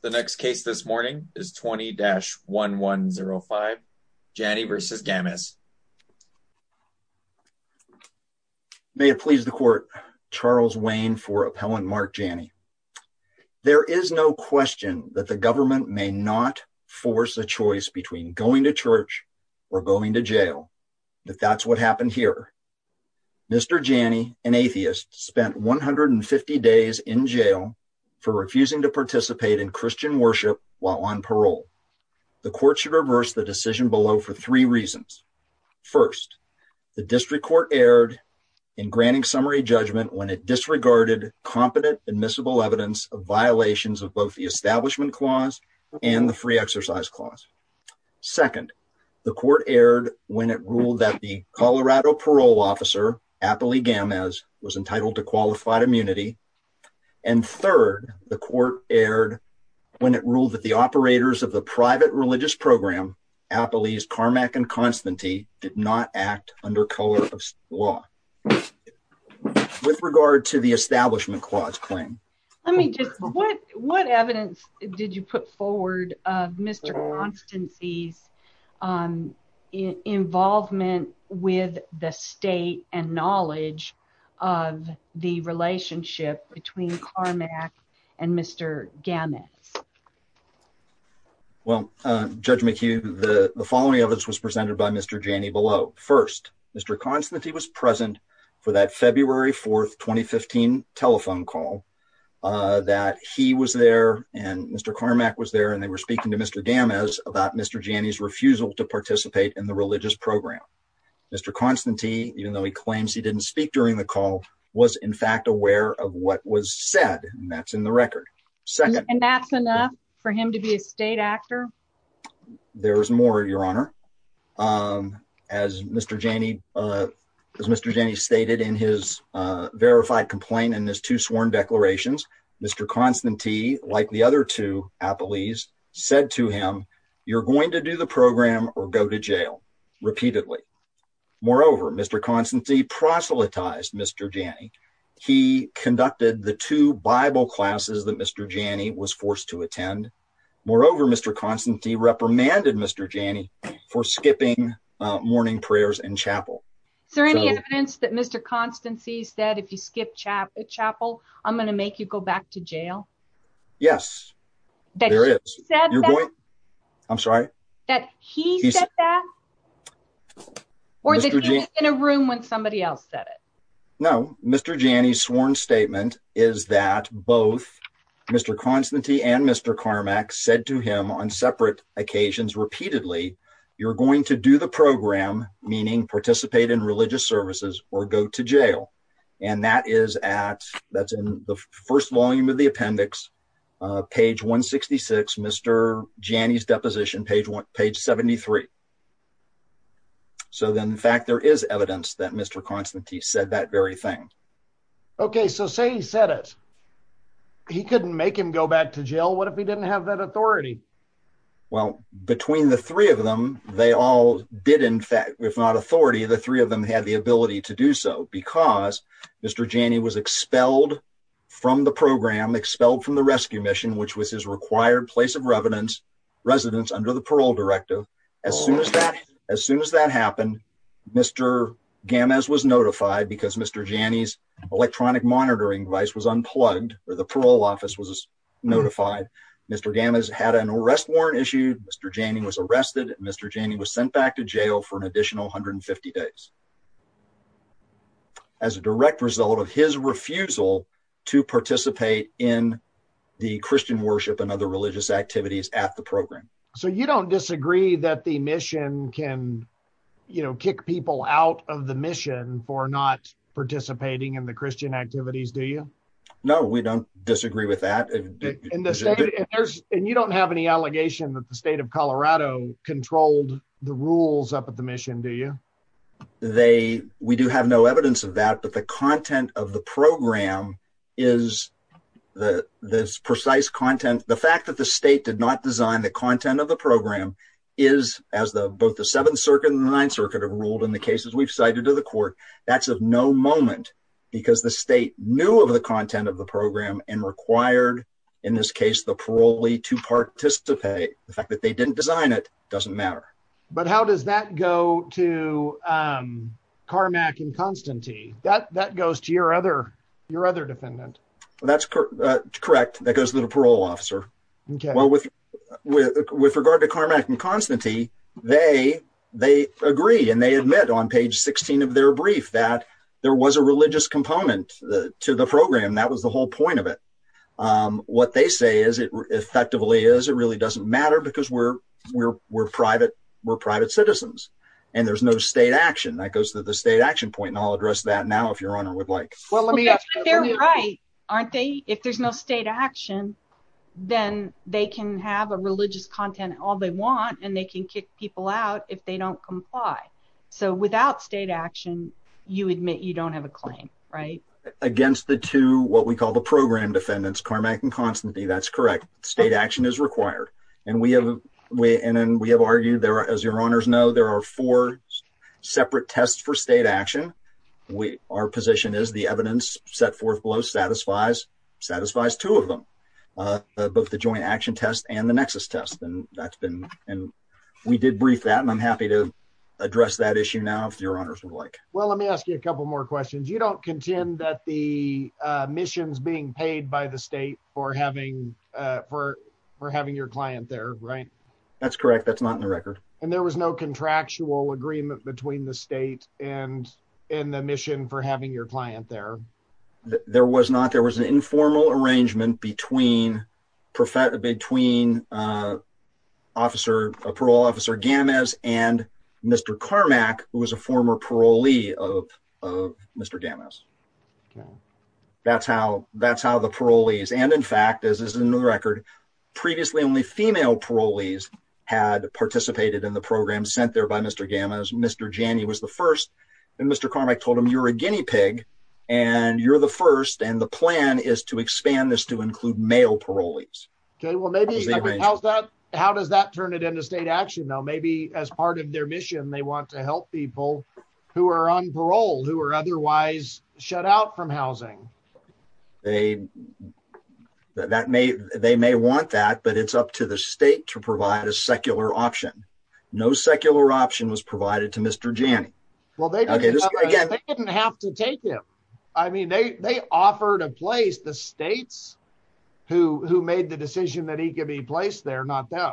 The next case this morning is 20-1105, Janny v. Gamez. May it please the court, Charles Wayne for Appellant Mark Janny. There is no question that the government may not force a choice between going to church or going to jail, but that's what happened here. Mr. Janny, an atheist, spent 150 days in jail for refusing to participate in Christian worship while on parole. The court should reverse the decision below for three reasons. First, the district court erred in granting summary judgment when it disregarded competent admissible evidence of violations of both the establishment clause and the free exercise clause. Second, the court erred when it ruled that the Colorado parole officer, Appley Gamez, was entitled to qualified immunity. And third, the court erred when it ruled that the operators of the private religious program, Appley's Carmack and Constancy, did not act under Colorado law. With regard to the establishment clause claim. Let me just, what evidence did you put forward of Mr. Constancy's involvement with the state and knowledge of the relationship between Carmack and Mr. Gamez? Well, Judge McHugh, the following evidence was presented by Mr. Janny below. First, Mr. Constancy was present for that February 4, 2015 telephone call. That he was there and Mr. Carmack was there and they were speaking to Mr. Gamez about Mr. Janny's refusal to participate in the religious program. Mr. Constancy, even though he claims he didn't speak during the call, was in fact aware of what was said. And that's in the record. Second. And that's enough for him to be a state actor? There's more, Your Honor. As Mr. Janny stated in his verified complaint in his two sworn declarations, Mr. Constancy, like the other two Appley's, said to him, you're going to do the program or go to jail repeatedly. Moreover, Mr. Constancy proselytized Mr. Janny. He conducted the two Bible classes that Mr. Janny was forced to attend. Moreover, Mr. Constancy reprimanded Mr. Janny for skipping morning prayers in chapel. Is there any evidence that Mr. Constancy said, if you skip chapel, I'm going to make you go back to jail? Yes, there is. I'm sorry? That he said that? Or that he was in a room when somebody else said it? No. Mr. Janny's sworn statement is that both Mr. Constancy and Mr. Carmack said to you're going to do the program, meaning participate in religious services or go to jail. And that is at, that's in the first volume of the appendix, page 166, Mr. Janny's deposition, page one, page 73. So then in fact, there is evidence that Mr. Constancy said that very thing. Okay. So say he said it, he couldn't make him go back to jail. What if he didn't have that they all did in fact, if not authority, the three of them had the ability to do so because Mr. Janny was expelled from the program, expelled from the rescue mission, which was his required place of residence under the parole directive. As soon as that happened, Mr. Gamez was notified because Mr. Janny's electronic monitoring device was unplugged or the parole office was notified. Mr. Gamez had an arrest warrant issued. Mr. Janny was arrested. Mr. Janny was sent back to jail for an additional 150 days as a direct result of his refusal to participate in the Christian worship and other religious activities at the program. So you don't disagree that the mission can, you know, kick people out of the mission for not participating in the Christian activities, do you? No, we don't disagree with that. And you don't have any allegation that the state of Colorado controlled the rules up at the mission, do you? They, we do have no evidence of that, but the content of the program is the precise content. The fact that the state did not design the content of the program is as the, both the seventh circuit and the ninth circuit ruled in the cases we've cited to the court. That's of no moment because the state knew of the content of the program and required, in this case, the parolee to participate. The fact that they didn't design it doesn't matter. But how does that go to Carmack and Constantine? That goes to your other, your other defendant. That's correct. That goes to the parole officer. Okay. With, with regard to Carmack and Constantine, they, they agree and they admit on page 16 of their brief that there was a religious component to the program. That was the whole point of it. What they say is it effectively is, it really doesn't matter because we're, we're, we're private, we're private citizens and there's no state action. That goes to the state action point. And I'll address that now, if your honor would like. Well, let me ask, aren't they, if there's no state action, then they can have a religious content all they want and they can kick people out if they don't comply. So without state action, you admit you don't have a claim, right? Against the two, what we call the program defendants, Carmack and Constantine, that's correct. State action is required. And we have, we, and then we have argued there, as your honors know, there are four separate tests for state action. We, our position is the evidence set forth below satisfies, satisfies two of them, uh, both the joint action test and the nexus test. And that's been, and we did brief that and I'm happy to address that issue now, if your honors would like. Well, let me ask you a couple more questions. You don't contend that the, uh, missions being paid by the state or having, uh, for, for having your client there, right? That's correct. That's not in the record. And there was no contractual agreement between the state and, and the mission for having your client there. There was not, there was an informal arrangement between professor, between, uh, officer, a parole officer gammas and Mr. Carmack, who was a former parolee of, of Mr. Gammas. That's how, that's how the parolees. And in fact, as is in the record, previously only female parolees had participated in the program sent there by Mr. Gammas. Mr. Janney was the first and Mr. Carmack told him you're a Guinea pig and you're the first. And the plan is to expand this to include male parolees. Okay. Well, maybe how's that? How does that turn it into state action though? Maybe as part of their mission, they want to help people who are on parole, who are otherwise shut out from housing. They, that may, they may want that, but it's up to the state to provide a secular option. No secular option was provided to Mr. Janney. Well, they didn't have to take him. I mean, they, they offered a place, the states who, who made the decision that he could be placed there, not them.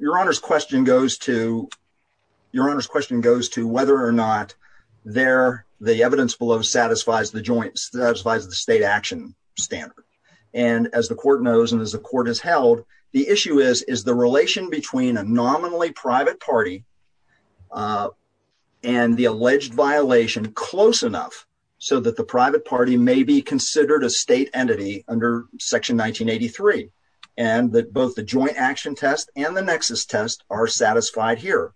Your Honor's question goes to, your Honor's question goes to whether or not there, the evidence below satisfies the joint, satisfies the state action standard. And as the nominally private party and the alleged violation close enough so that the private party may be considered a state entity under section 1983 and that both the joint action test and the nexus test are satisfied here.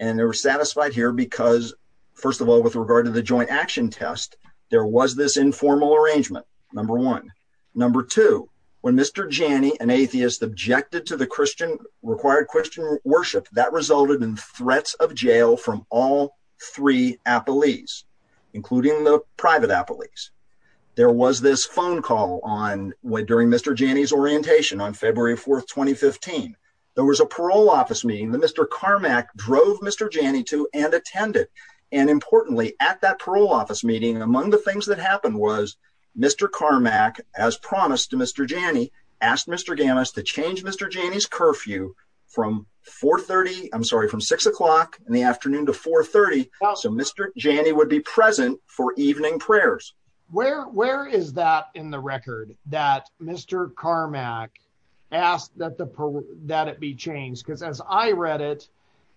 And they were satisfied here because first of all, with regard to the joint action test, there was this informal arrangement. Number one, number two, when Mr. Janney, an atheist, objected to the Christian, required Christian worship that resulted in threats of jail from all three appellees, including the private appellees. There was this phone call on, during Mr. Janney's orientation on February 4th, 2015. There was a parole office meeting that Mr. Carmack drove Mr. Janney to and attended. And importantly at that parole office meeting, among the things that happened was Mr. Carmack, as promised to Mr. Janney, asked Mr. Gamis to change Mr. Janney's curfew from 430, I'm sorry, from six o'clock in the afternoon to 430. So, Mr. Janney would be present for evening prayers. Where, where is that in the record that Mr. Carmack asked that the, that it be changed? Because as I read it,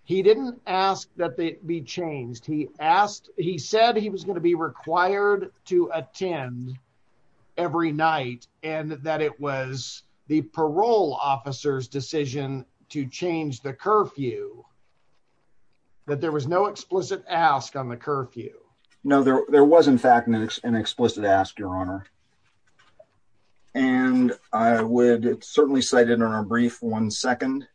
he didn't ask that they be changed. He asked, he said he was going to be required to attend every night and that it was the parole officer's decision to change the curfew. That there was no explicit ask on the curfew. No, there, there was in fact an explicit ask, Your Honor. And I would certainly cite it in our brief one second.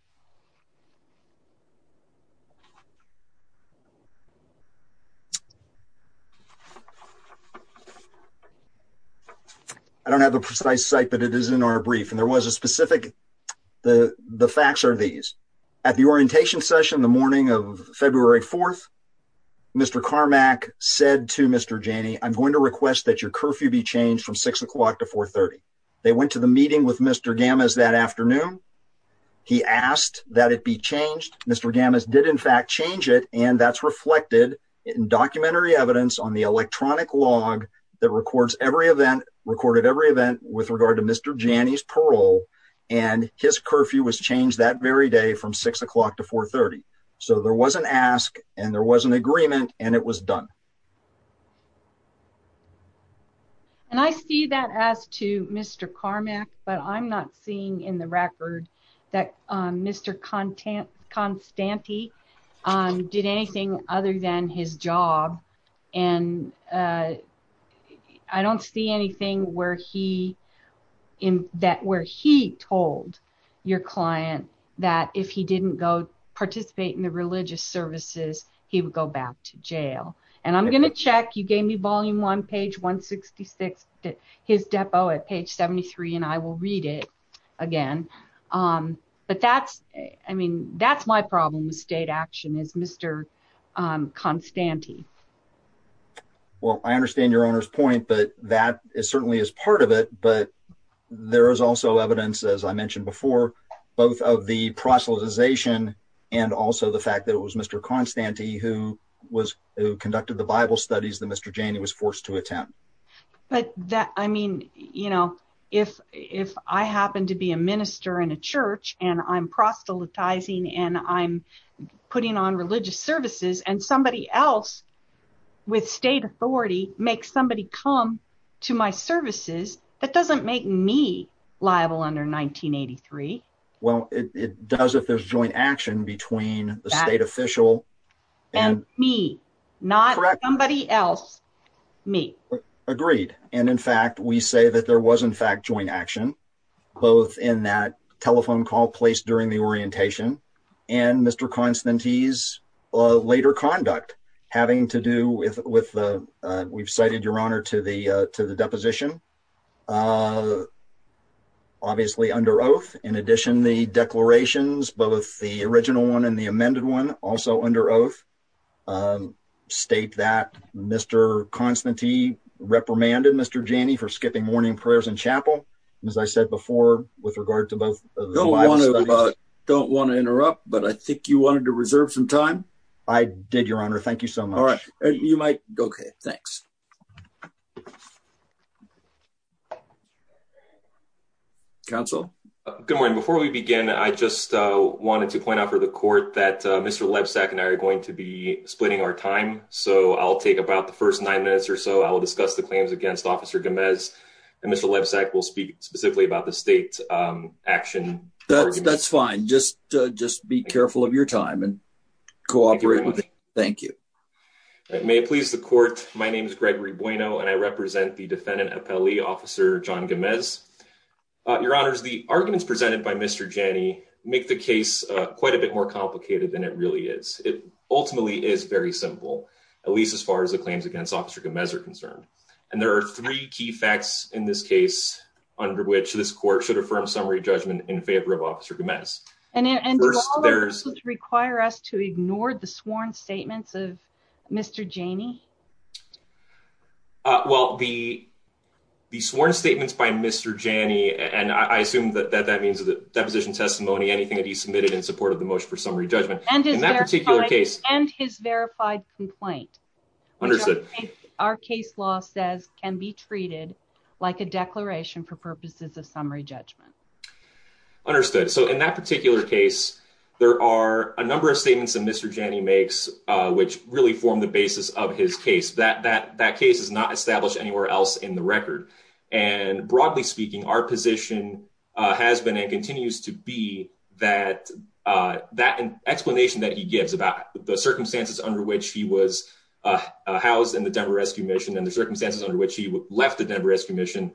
I don't have the precise site, but it is in our brief and there was a specific, the, the facts are these. At the orientation session, the morning of February 4th, Mr. Carmack said to Mr. Janney, I'm going to request that your curfew be changed from six o'clock to 430. They went to the meeting with Mr. Gamis that afternoon. He asked that it be changed. Mr. Gamis did in fact change it. And that's reflected in documentary evidence on the electronic log that records every event, recorded every event with regard to Mr. Janney's parole. And his curfew was changed that very day from six o'clock to 430. So there was an ask and there was an explicit ask that was done. And I see that as to Mr. Carmack, but I'm not seeing in the record that Mr. Constante did anything other than his job. And I don't see anything where he, that where he told your client that if he didn't go participate in the religious services, he would go back to jail. And I'm going to check, you gave me volume one, page 166, his depo at page 73, and I will read it again. But that's, I mean, that's my problem with state action is Mr. Constante. Well, I understand your owner's point, but that is certainly as part of it. But there is also evidence, as I mentioned before, both of the proselytization and also the fact that it was Mr. Constante who was, who conducted the Bible studies that Mr. Janney was forced to attempt. But that, I mean, you know, if, if I happen to be a minister in a church and I'm proselytizing and I'm putting on religious services and somebody else with state authority makes somebody come to my services, that doesn't make me liable under 1983. Well, it does if there's joint action between the state official and me, not somebody else, me. Agreed. And in fact, we say that there was in fact joint action, both in that telephone call placed during the orientation and Mr. Constante's later conduct having to do with, with the, we've cited your honor to the, to the deposition obviously under oath. In addition, the declarations, both the original one and the amended one also under oath state that Mr. Constante reprimanded Mr. Janney for skipping morning prayers and chapel. And as I said before, with regard to both, don't want to interrupt, but I think you wanted to reserve some time. I did your honor. Thank you so much. You might. Okay. Thanks. Council. Good morning. Before we begin, I just wanted to point out for the court that Mr. Lebsack and I are going to be splitting our time. So I'll take about the first nine minutes or so I'll discuss the claims against officer Gomez and Mr. Lebsack will speak specifically about the state action. That's fine. Just, just be careful of your time and cooperate. Thank you. May it please the defendant, officer John Gomez, your honors, the arguments presented by Mr. Janney make the case quite a bit more complicated than it really is. It ultimately is very simple, at least as far as the claims against officer Gomez are concerned. And there are three key facts in this case under which this court should affirm summary judgment in favor of officer Gomez. And require us to ignore the sworn statements of Mr. Janney. Well, the, the sworn statements by Mr. Janney, and I assume that that, that means the deposition testimony, anything that he submitted in support of the motion for summary judgment. And in that particular case and his verified complaint, our case law says can be treated like a declaration for purposes of summary judgment. Understood. So in that particular case, there are a number of statements that Mr. Janney makes which really formed the basis of his case. That, that, that case is not established anywhere else in the record. And broadly speaking, our position has been and continues to be that, that explanation that he gives about the circumstances under which he was housed in the Denver rescue mission and the circumstances under which he left the Denver rescue mission.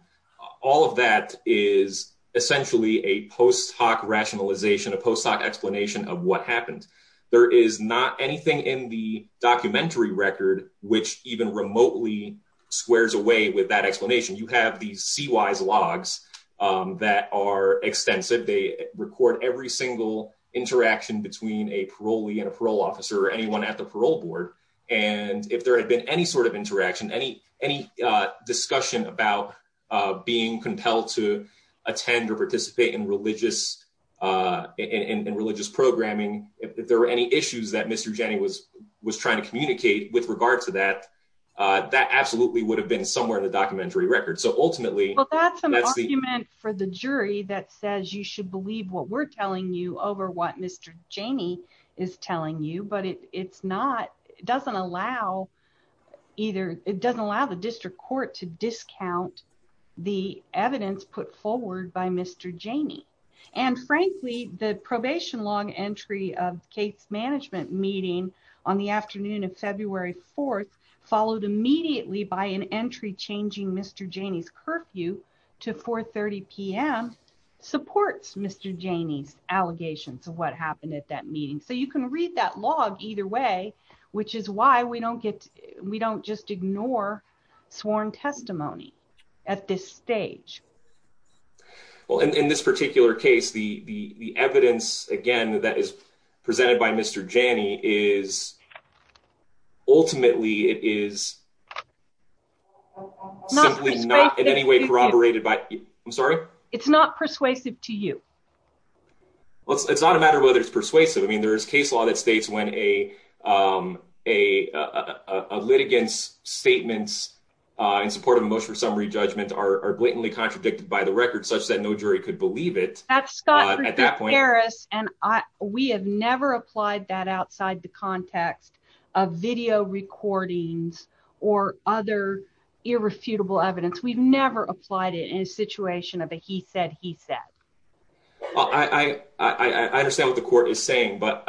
All of that is essentially a post hoc rationalization, a post hoc explanation of what happened. There is not anything in the documentary record, which even remotely squares away with that explanation. You have these C wise logs that are extensive. They record every single interaction between a parolee and a parole officer or anyone at the parole board. And if there had been any sort of interaction, any, any discussion about being compelled to attend or participate in religious and religious programming, if there were any issues that Mr. Janney was, was trying to communicate with regard to that, that absolutely would have been somewhere in the documentary record. So ultimately that's the argument for the jury that says you should believe what we're telling you over what Mr. Janney is telling you, but it's not, it doesn't allow either. It doesn't allow the district court to discount the evidence put forward by Mr. Janney. And frankly, the probation long entry of Kate's management meeting on the afternoon of February 4th followed immediately by an entry changing Mr. Janney's curfew to 4 30 PM supports Mr. Janney's allegations of what happened at that meeting. So you can read that log either way, which is why we we don't just ignore sworn testimony at this stage. Well, in this particular case, the, the, the evidence again, that is presented by Mr. Janney is ultimately it is simply not in any way corroborated by, I'm sorry. It's not persuasive to you. It's not a matter of whether it's persuasive. I mean, there is case law that States when a, a, a litigants statements in support of emotional summary judgment are blatantly contradicted by the record such that no jury could believe it at that point. And I, we have never applied that outside the context of video recordings or other irrefutable evidence. We've never applied it in a situation of a, he said, he said. I, I, I understand what the court is saying, but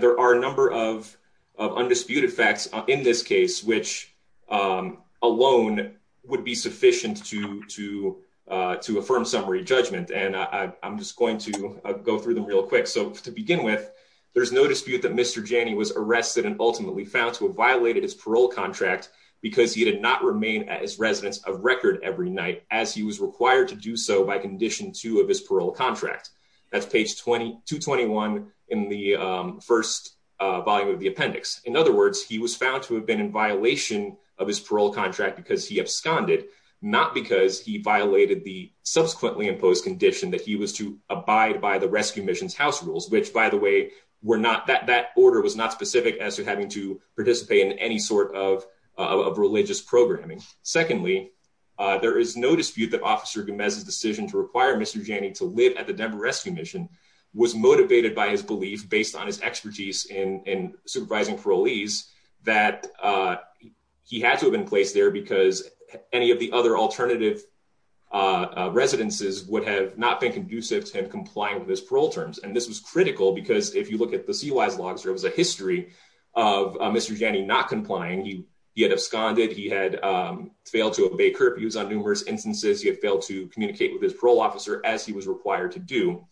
there are a number of, of undisputed facts in this case, which alone would be sufficient to, to, to affirm summary judgment. And I'm just going to go through them real quick. So to begin with, there's no dispute that Mr. Janney was arrested and ultimately found to have violated his parole contract because he did not remain as residents of record every night, as he was required to do so by condition two of his parole contract. That's page 20 to 21 in the first volume of the appendix. In other words, he was found to have been in violation of his parole contract because he absconded, not because he violated the subsequently imposed condition that he was to abide by the rescue missions house rules, which by the way, we're not that that order was not specific as to having to participate in any of religious programming. Secondly, there is no dispute that officer Gomez's decision to require Mr. Janney to live at the Denver rescue mission was motivated by his belief based on his expertise in supervising parolees that he had to have been placed there because any of the other alternative residences would have not been conducive to him complying with his parole terms. And this was critical because if you look at the CY's logs, there was a history of Mr. Janney not complying. He had absconded. He had failed to obey curfews on numerous instances. He had failed to communicate with his parole officer as he was required to do.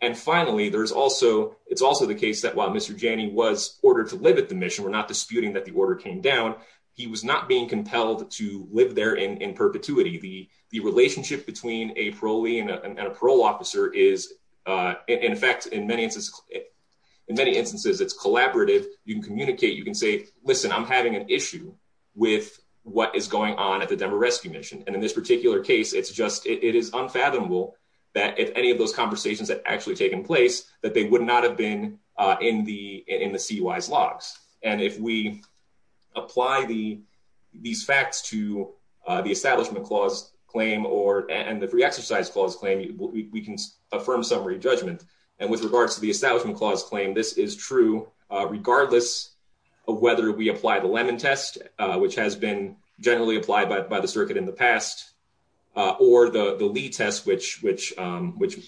And finally, there's also, it's also the case that while Mr. Janney was ordered to live at the mission, we're not disputing that the order came down. He was not being compelled to live there in perpetuity. The relationship between a parolee and a parole officer is in fact, in many instances, it's collaborative. You can communicate, you can say, listen, I'm having an issue with what is going on at the Denver rescue mission. And in this particular case, it's just, it is unfathomable that if any of those conversations had actually taken place, that they would not have been in the, in the CY's logs. And if we apply the, these facts to the establishment clause claim or, and the free exercise clause claim, we can affirm summary judgment. And with regards to the establishment clause claim, this is true regardless of whether we apply the Lemon test, which has been generally applied by the circuit in the past, or the Lee test, which, which, which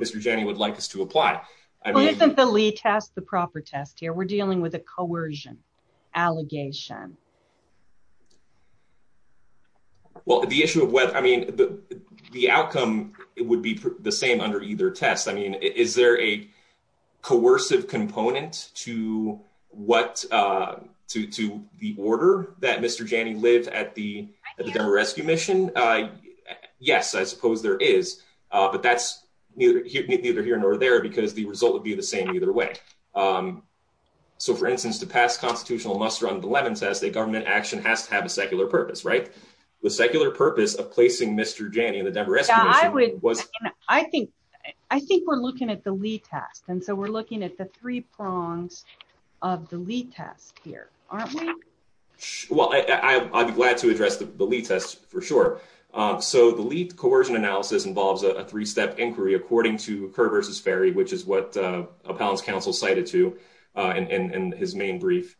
Mr. Janney would like us to apply. I mean, the Lee test, the proper test here, we're dealing with a coercion allegation. Well, the issue of whether, I mean, the outcome, it would be the same under either test. I mean, is there a coercive component to what to, to the order that Mr. Janney lived at the, at the Denver rescue mission? Yes, I suppose there is. But that's neither here, neither here nor there, because the result would be the same either way. So for instance, to pass constitutional muster on the Lemon test, a government action has to have a secular purpose, right? The secular purpose of placing Mr. Janney in the Denver rescue mission was... I think, I think we're looking at the Lee test. And so we're looking at the three prongs of the Lee test here, aren't we? Well, I'd be glad to address the Lee test for sure. So the Lee coercion analysis involves a three-step inquiry according to Kerr versus Ferry, which is what Appellant's counsel cited to in his main brief.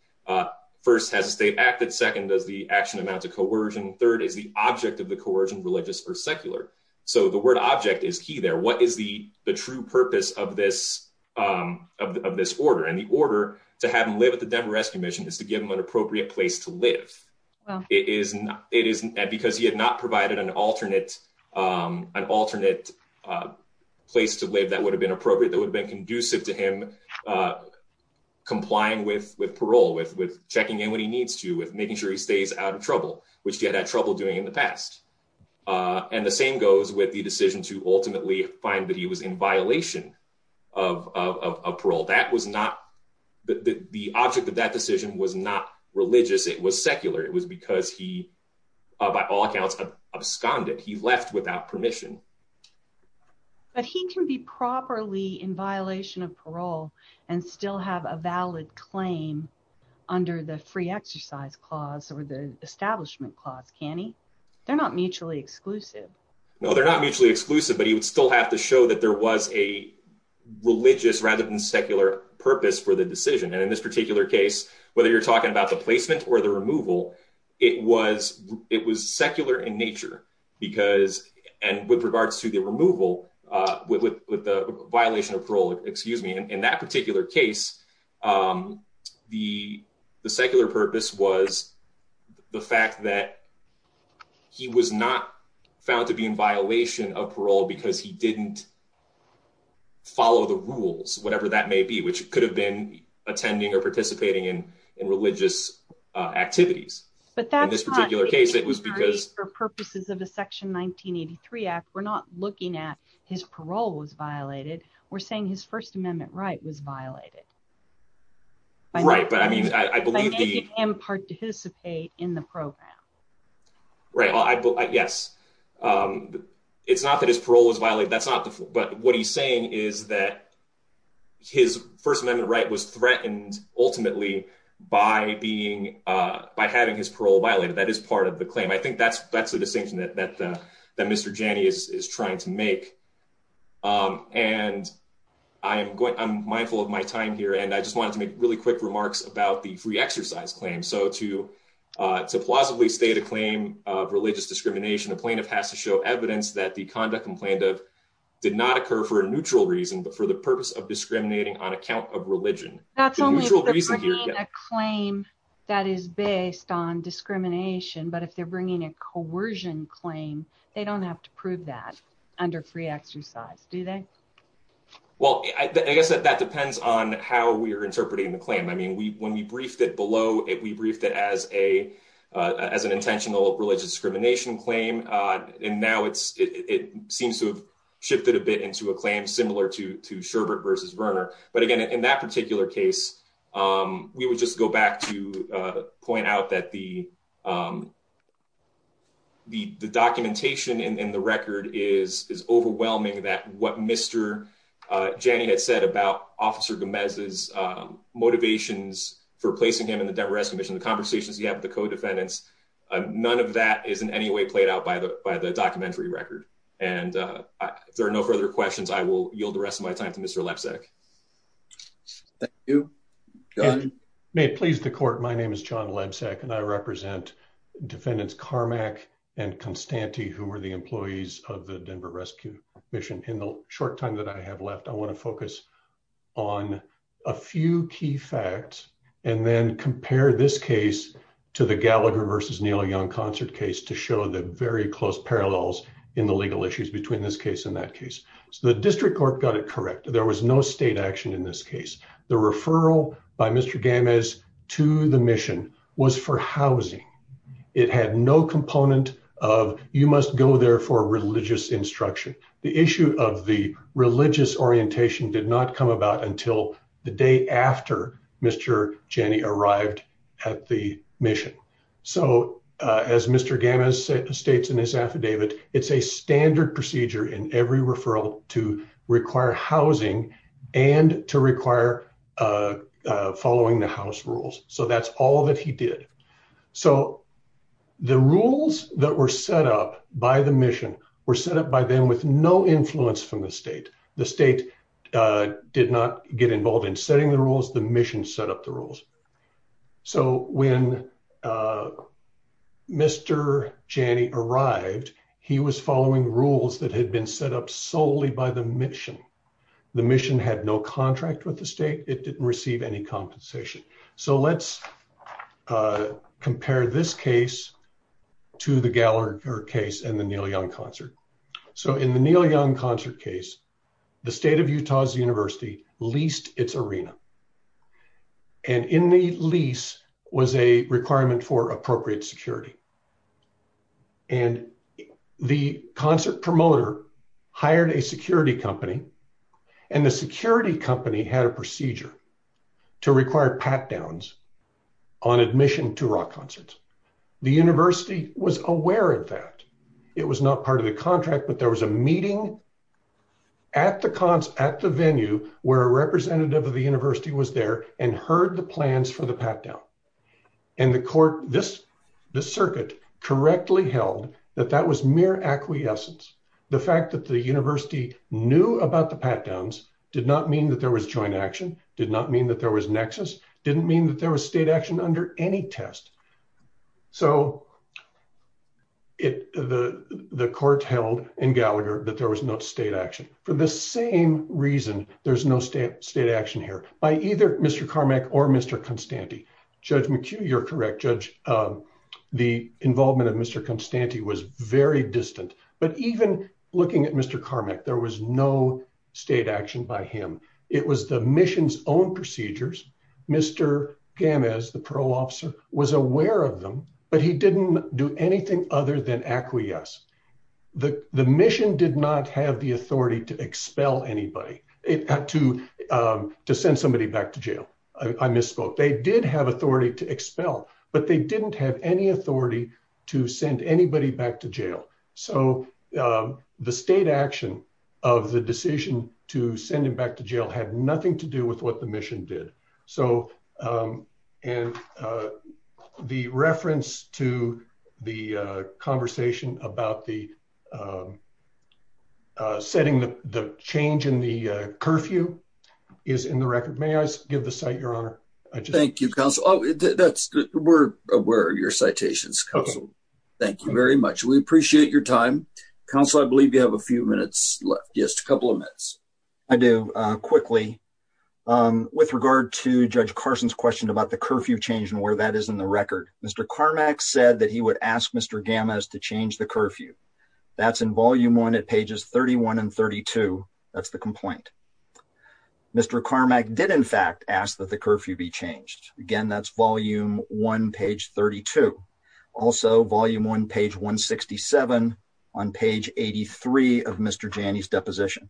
First, has the state acted? Second, does the action amount to coercion? Third, is the object of the coercion religious or secular? So the word object is key there. What is the, the true purpose of this, of this order? And the order to have him live at the Denver rescue mission is to give him an appropriate place to live. It is not, it isn't, because he had not provided an alternate, an alternate place to live that would have been appropriate, that would have been conducive to him complying with, with parole, with, with checking in when he needs to, with making sure he stays out of trouble, which same goes with the decision to ultimately find that he was in violation of, of, of parole. That was not the, the object of that decision was not religious. It was secular. It was because he, by all accounts, absconded. He left without permission. But he can be properly in violation of parole and still have a valid claim under the free exercise clause or the establishment clause, can he? They're not mutually exclusive. No, they're not mutually exclusive, but he would still have to show that there was a religious rather than secular purpose for the decision. And in this particular case, whether you're talking about the placement or the removal, it was, it was secular in nature because, and with regards to the removal, uh, with, with, with the violation of parole, excuse me, in that particular case, um, the, the secular purpose was the fact that he was not found to be in violation of parole because he didn't follow the rules, whatever that may be, which could have been attending or participating in, in religious activities. But in this particular case, it was because purposes of the section 1983 act, we're not looking at his parole was violated. We're saying his first amendment right was violated. Right. But I mean, I believe the participate in the program. Right. Well, I, yes. Um, it's not that his parole was violated. That's not the, but what he's saying is that his first amendment right was threatened ultimately by being, uh, by having his parole violated. That is part of the claim. I think that's, that's the distinction that, that, uh, that Mr. Janney is trying to make. Um, and I am going, I'm mindful of my time here and I just wanted to make really quick remarks about the free exercise claim. So to, uh, to plausibly state a claim of religious discrimination, a plaintiff has to show evidence that the conduct and plaintiff did not occur for a neutral reason, but for the purpose of discriminating on account of religion, a claim that is based on discrimination. But if they're bringing a coercion claim, they don't have to prove that under free exercise, do they? Well, I guess that, that depends on how we are interpreting the claim. I mean, we, when we briefed it below it, we briefed it as a, uh, as an intentional religious discrimination claim. Uh, and now it's, it seems to have shifted a bit into a claim similar to, to Sherbert versus Verner. But again, in that particular case, um, we would just go back to, uh, point out that the, um, the, the documentation in the record is, is overwhelming that what Mr. Uh, Janney had said about officer Gomez's, um, motivations for placing him in the Denver estimation, the conversations you have with the co-defendants, uh, none of that is in any way played out by the, by the documentary record. And, uh, if there are no further questions, I will yield the rest of my time to Mr. Lepsek. Thank you. May it please the court. My name is John Lepsek and I represent defendants, Carmack and Constante, who were the employees of the Denver rescue mission in the short time that I have left. I want to focus on a few key facts and then compare this case to the Gallagher versus Neil Young concert case to show the very close parallels in the legal issues between this case and that case. So the district court got it correct. There was no state action in this case. The referral by Mr. Gamez to the mission was for housing. It had no component of, you must go there for religious instruction. The issue of the religious orientation did not come about until the day after Mr. Jenny arrived at the mission. So, uh, as Mr. Gamis states in his affidavit, it's a standard procedure in every referral to require housing and to require, uh, uh, following the house rules. So that's all that he did. So the rules that were set up by the mission were set up by them with no influence from the state. The state, uh, did not get involved in setting the rules. The mission set up the rules. So when, uh, Mr. Jenny arrived, he was following rules that had been set up solely by the mission. The mission had no contract with the state. It didn't receive any compensation. So let's, uh, compare this case to the Gallagher case and the Neil Young concert. So in the Neil Young concert case, the state of Utah's university leased its arena. And in the lease was a requirement for a pat-down. And the concert promoter hired a security company and the security company had a procedure to require pat-downs on admission to rock concerts. The university was aware of that. It was not part of the contract, but there was a meeting at the concert, at the venue, where a representative of the university was there and heard the plans for the pat-down. And the court, this, this circuit correctly held that that was mere acquiescence. The fact that the university knew about the pat-downs did not mean that there was joint action, did not mean that there was nexus, didn't mean that there was state action under any test. So it, the, the court held in Gallagher that there was no state action for the same reason. There's no state state action by either Mr. Carmack or Mr. Constante. Judge McHugh, you're correct. Judge, the involvement of Mr. Constante was very distant, but even looking at Mr. Carmack, there was no state action by him. It was the mission's own procedures. Mr. Gamez, the pro officer was aware of them, but he didn't do anything other than acquiesce. The, the mission did not have the authority to send somebody back to jail. I misspoke. They did have authority to expel, but they didn't have any authority to send anybody back to jail. So the state action of the decision to send him back to jail had nothing to do with what the mission did. So, and the reference to the conversation about the, uh, uh, setting the, the change in the, uh, curfew is in the record. May I give the site your honor? Thank you, counsel. Oh, that's we're aware of your citations. Thank you very much. We appreciate your time counsel. I believe you have a few minutes left. Yes. A couple of minutes. I do, uh, quickly, um, with regard to judge Carson's question about the curfew change where that is in the record, Mr. Carmack said that he would ask Mr. Gamez to change the curfew. That's in volume one at pages 31 and 32. That's the complaint. Mr. Carmack did in fact ask that the curfew be changed again. That's volume one, page 32, also volume one, page one 67 on page 83 of Mr. Janney's deposition.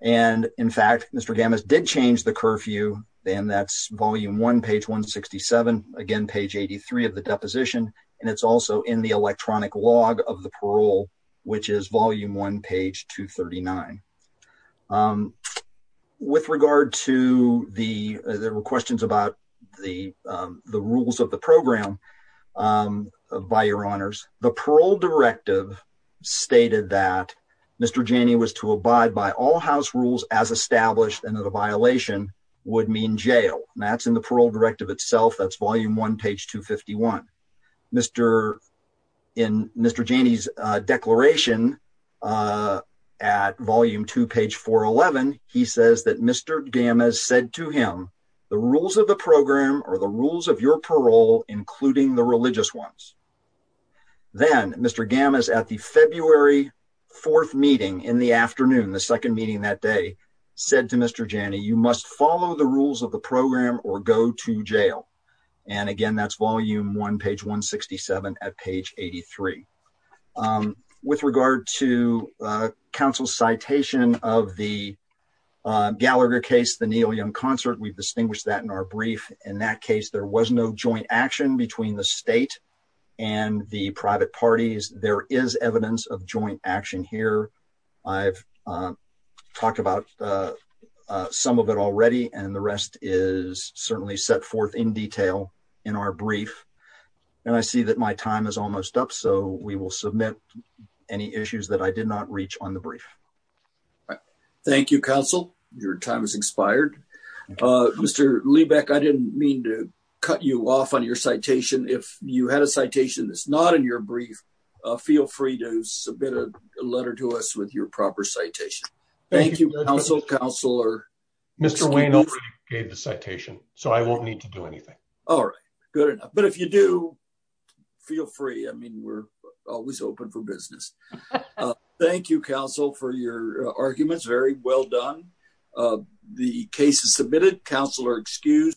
And in fact, Mr. Gamez did change the curfew. And that's volume one, page 1 67 again, page 83 of the deposition. And it's also in the electronic log of the parole, which is volume one, page 2 39. Um, with regard to the, there were questions about the, um, the rules of the program, um, by your honors, the parole directive stated that Mr. Janney was to abide by all house rules as established and that a violation would mean jail. And that's in the parole directive itself. That's volume one, page 2 51. Mr. In Mr. Janney's, uh, declaration, uh, at volume two, page four 11, he says that Mr. Gamez said to him, the rules of the program or the rules of your parole, including the religious ones. Then Mr. Gam is at the February 4th meeting in the afternoon. The second meeting that day said to Mr. Janney, you must follow the rules of the program or go to jail. And again, that's volume one, page 1 67 at page 83. Um, with regard to, uh, council citation of the, uh, Gallagher case, the Neil young concert, we've distinguished that in our brief. In that case, there was no action between the state and the private parties. There is evidence of joint action here. I've, uh, talked about, uh, uh, some of it already and the rest is certainly set forth in detail in our brief. And I see that my time is almost up. So we will submit any issues that I did not reach on the brief. Thank you. Counsel, your time has expired. Uh, Mr. Liebeck, I didn't mean to cut you off on your citation. If you had a citation that's not in your brief, uh, feel free to submit a letter to us with your proper citation. Thank you. Counsel counselor, Mr. Wayne gave the citation, so I won't need to do anything. All right, good enough. But if you do feel free, I mean, we're always open for business. Uh, thank you counsel for your arguments. Very well done. Uh, the case is submitted. Counselor excused.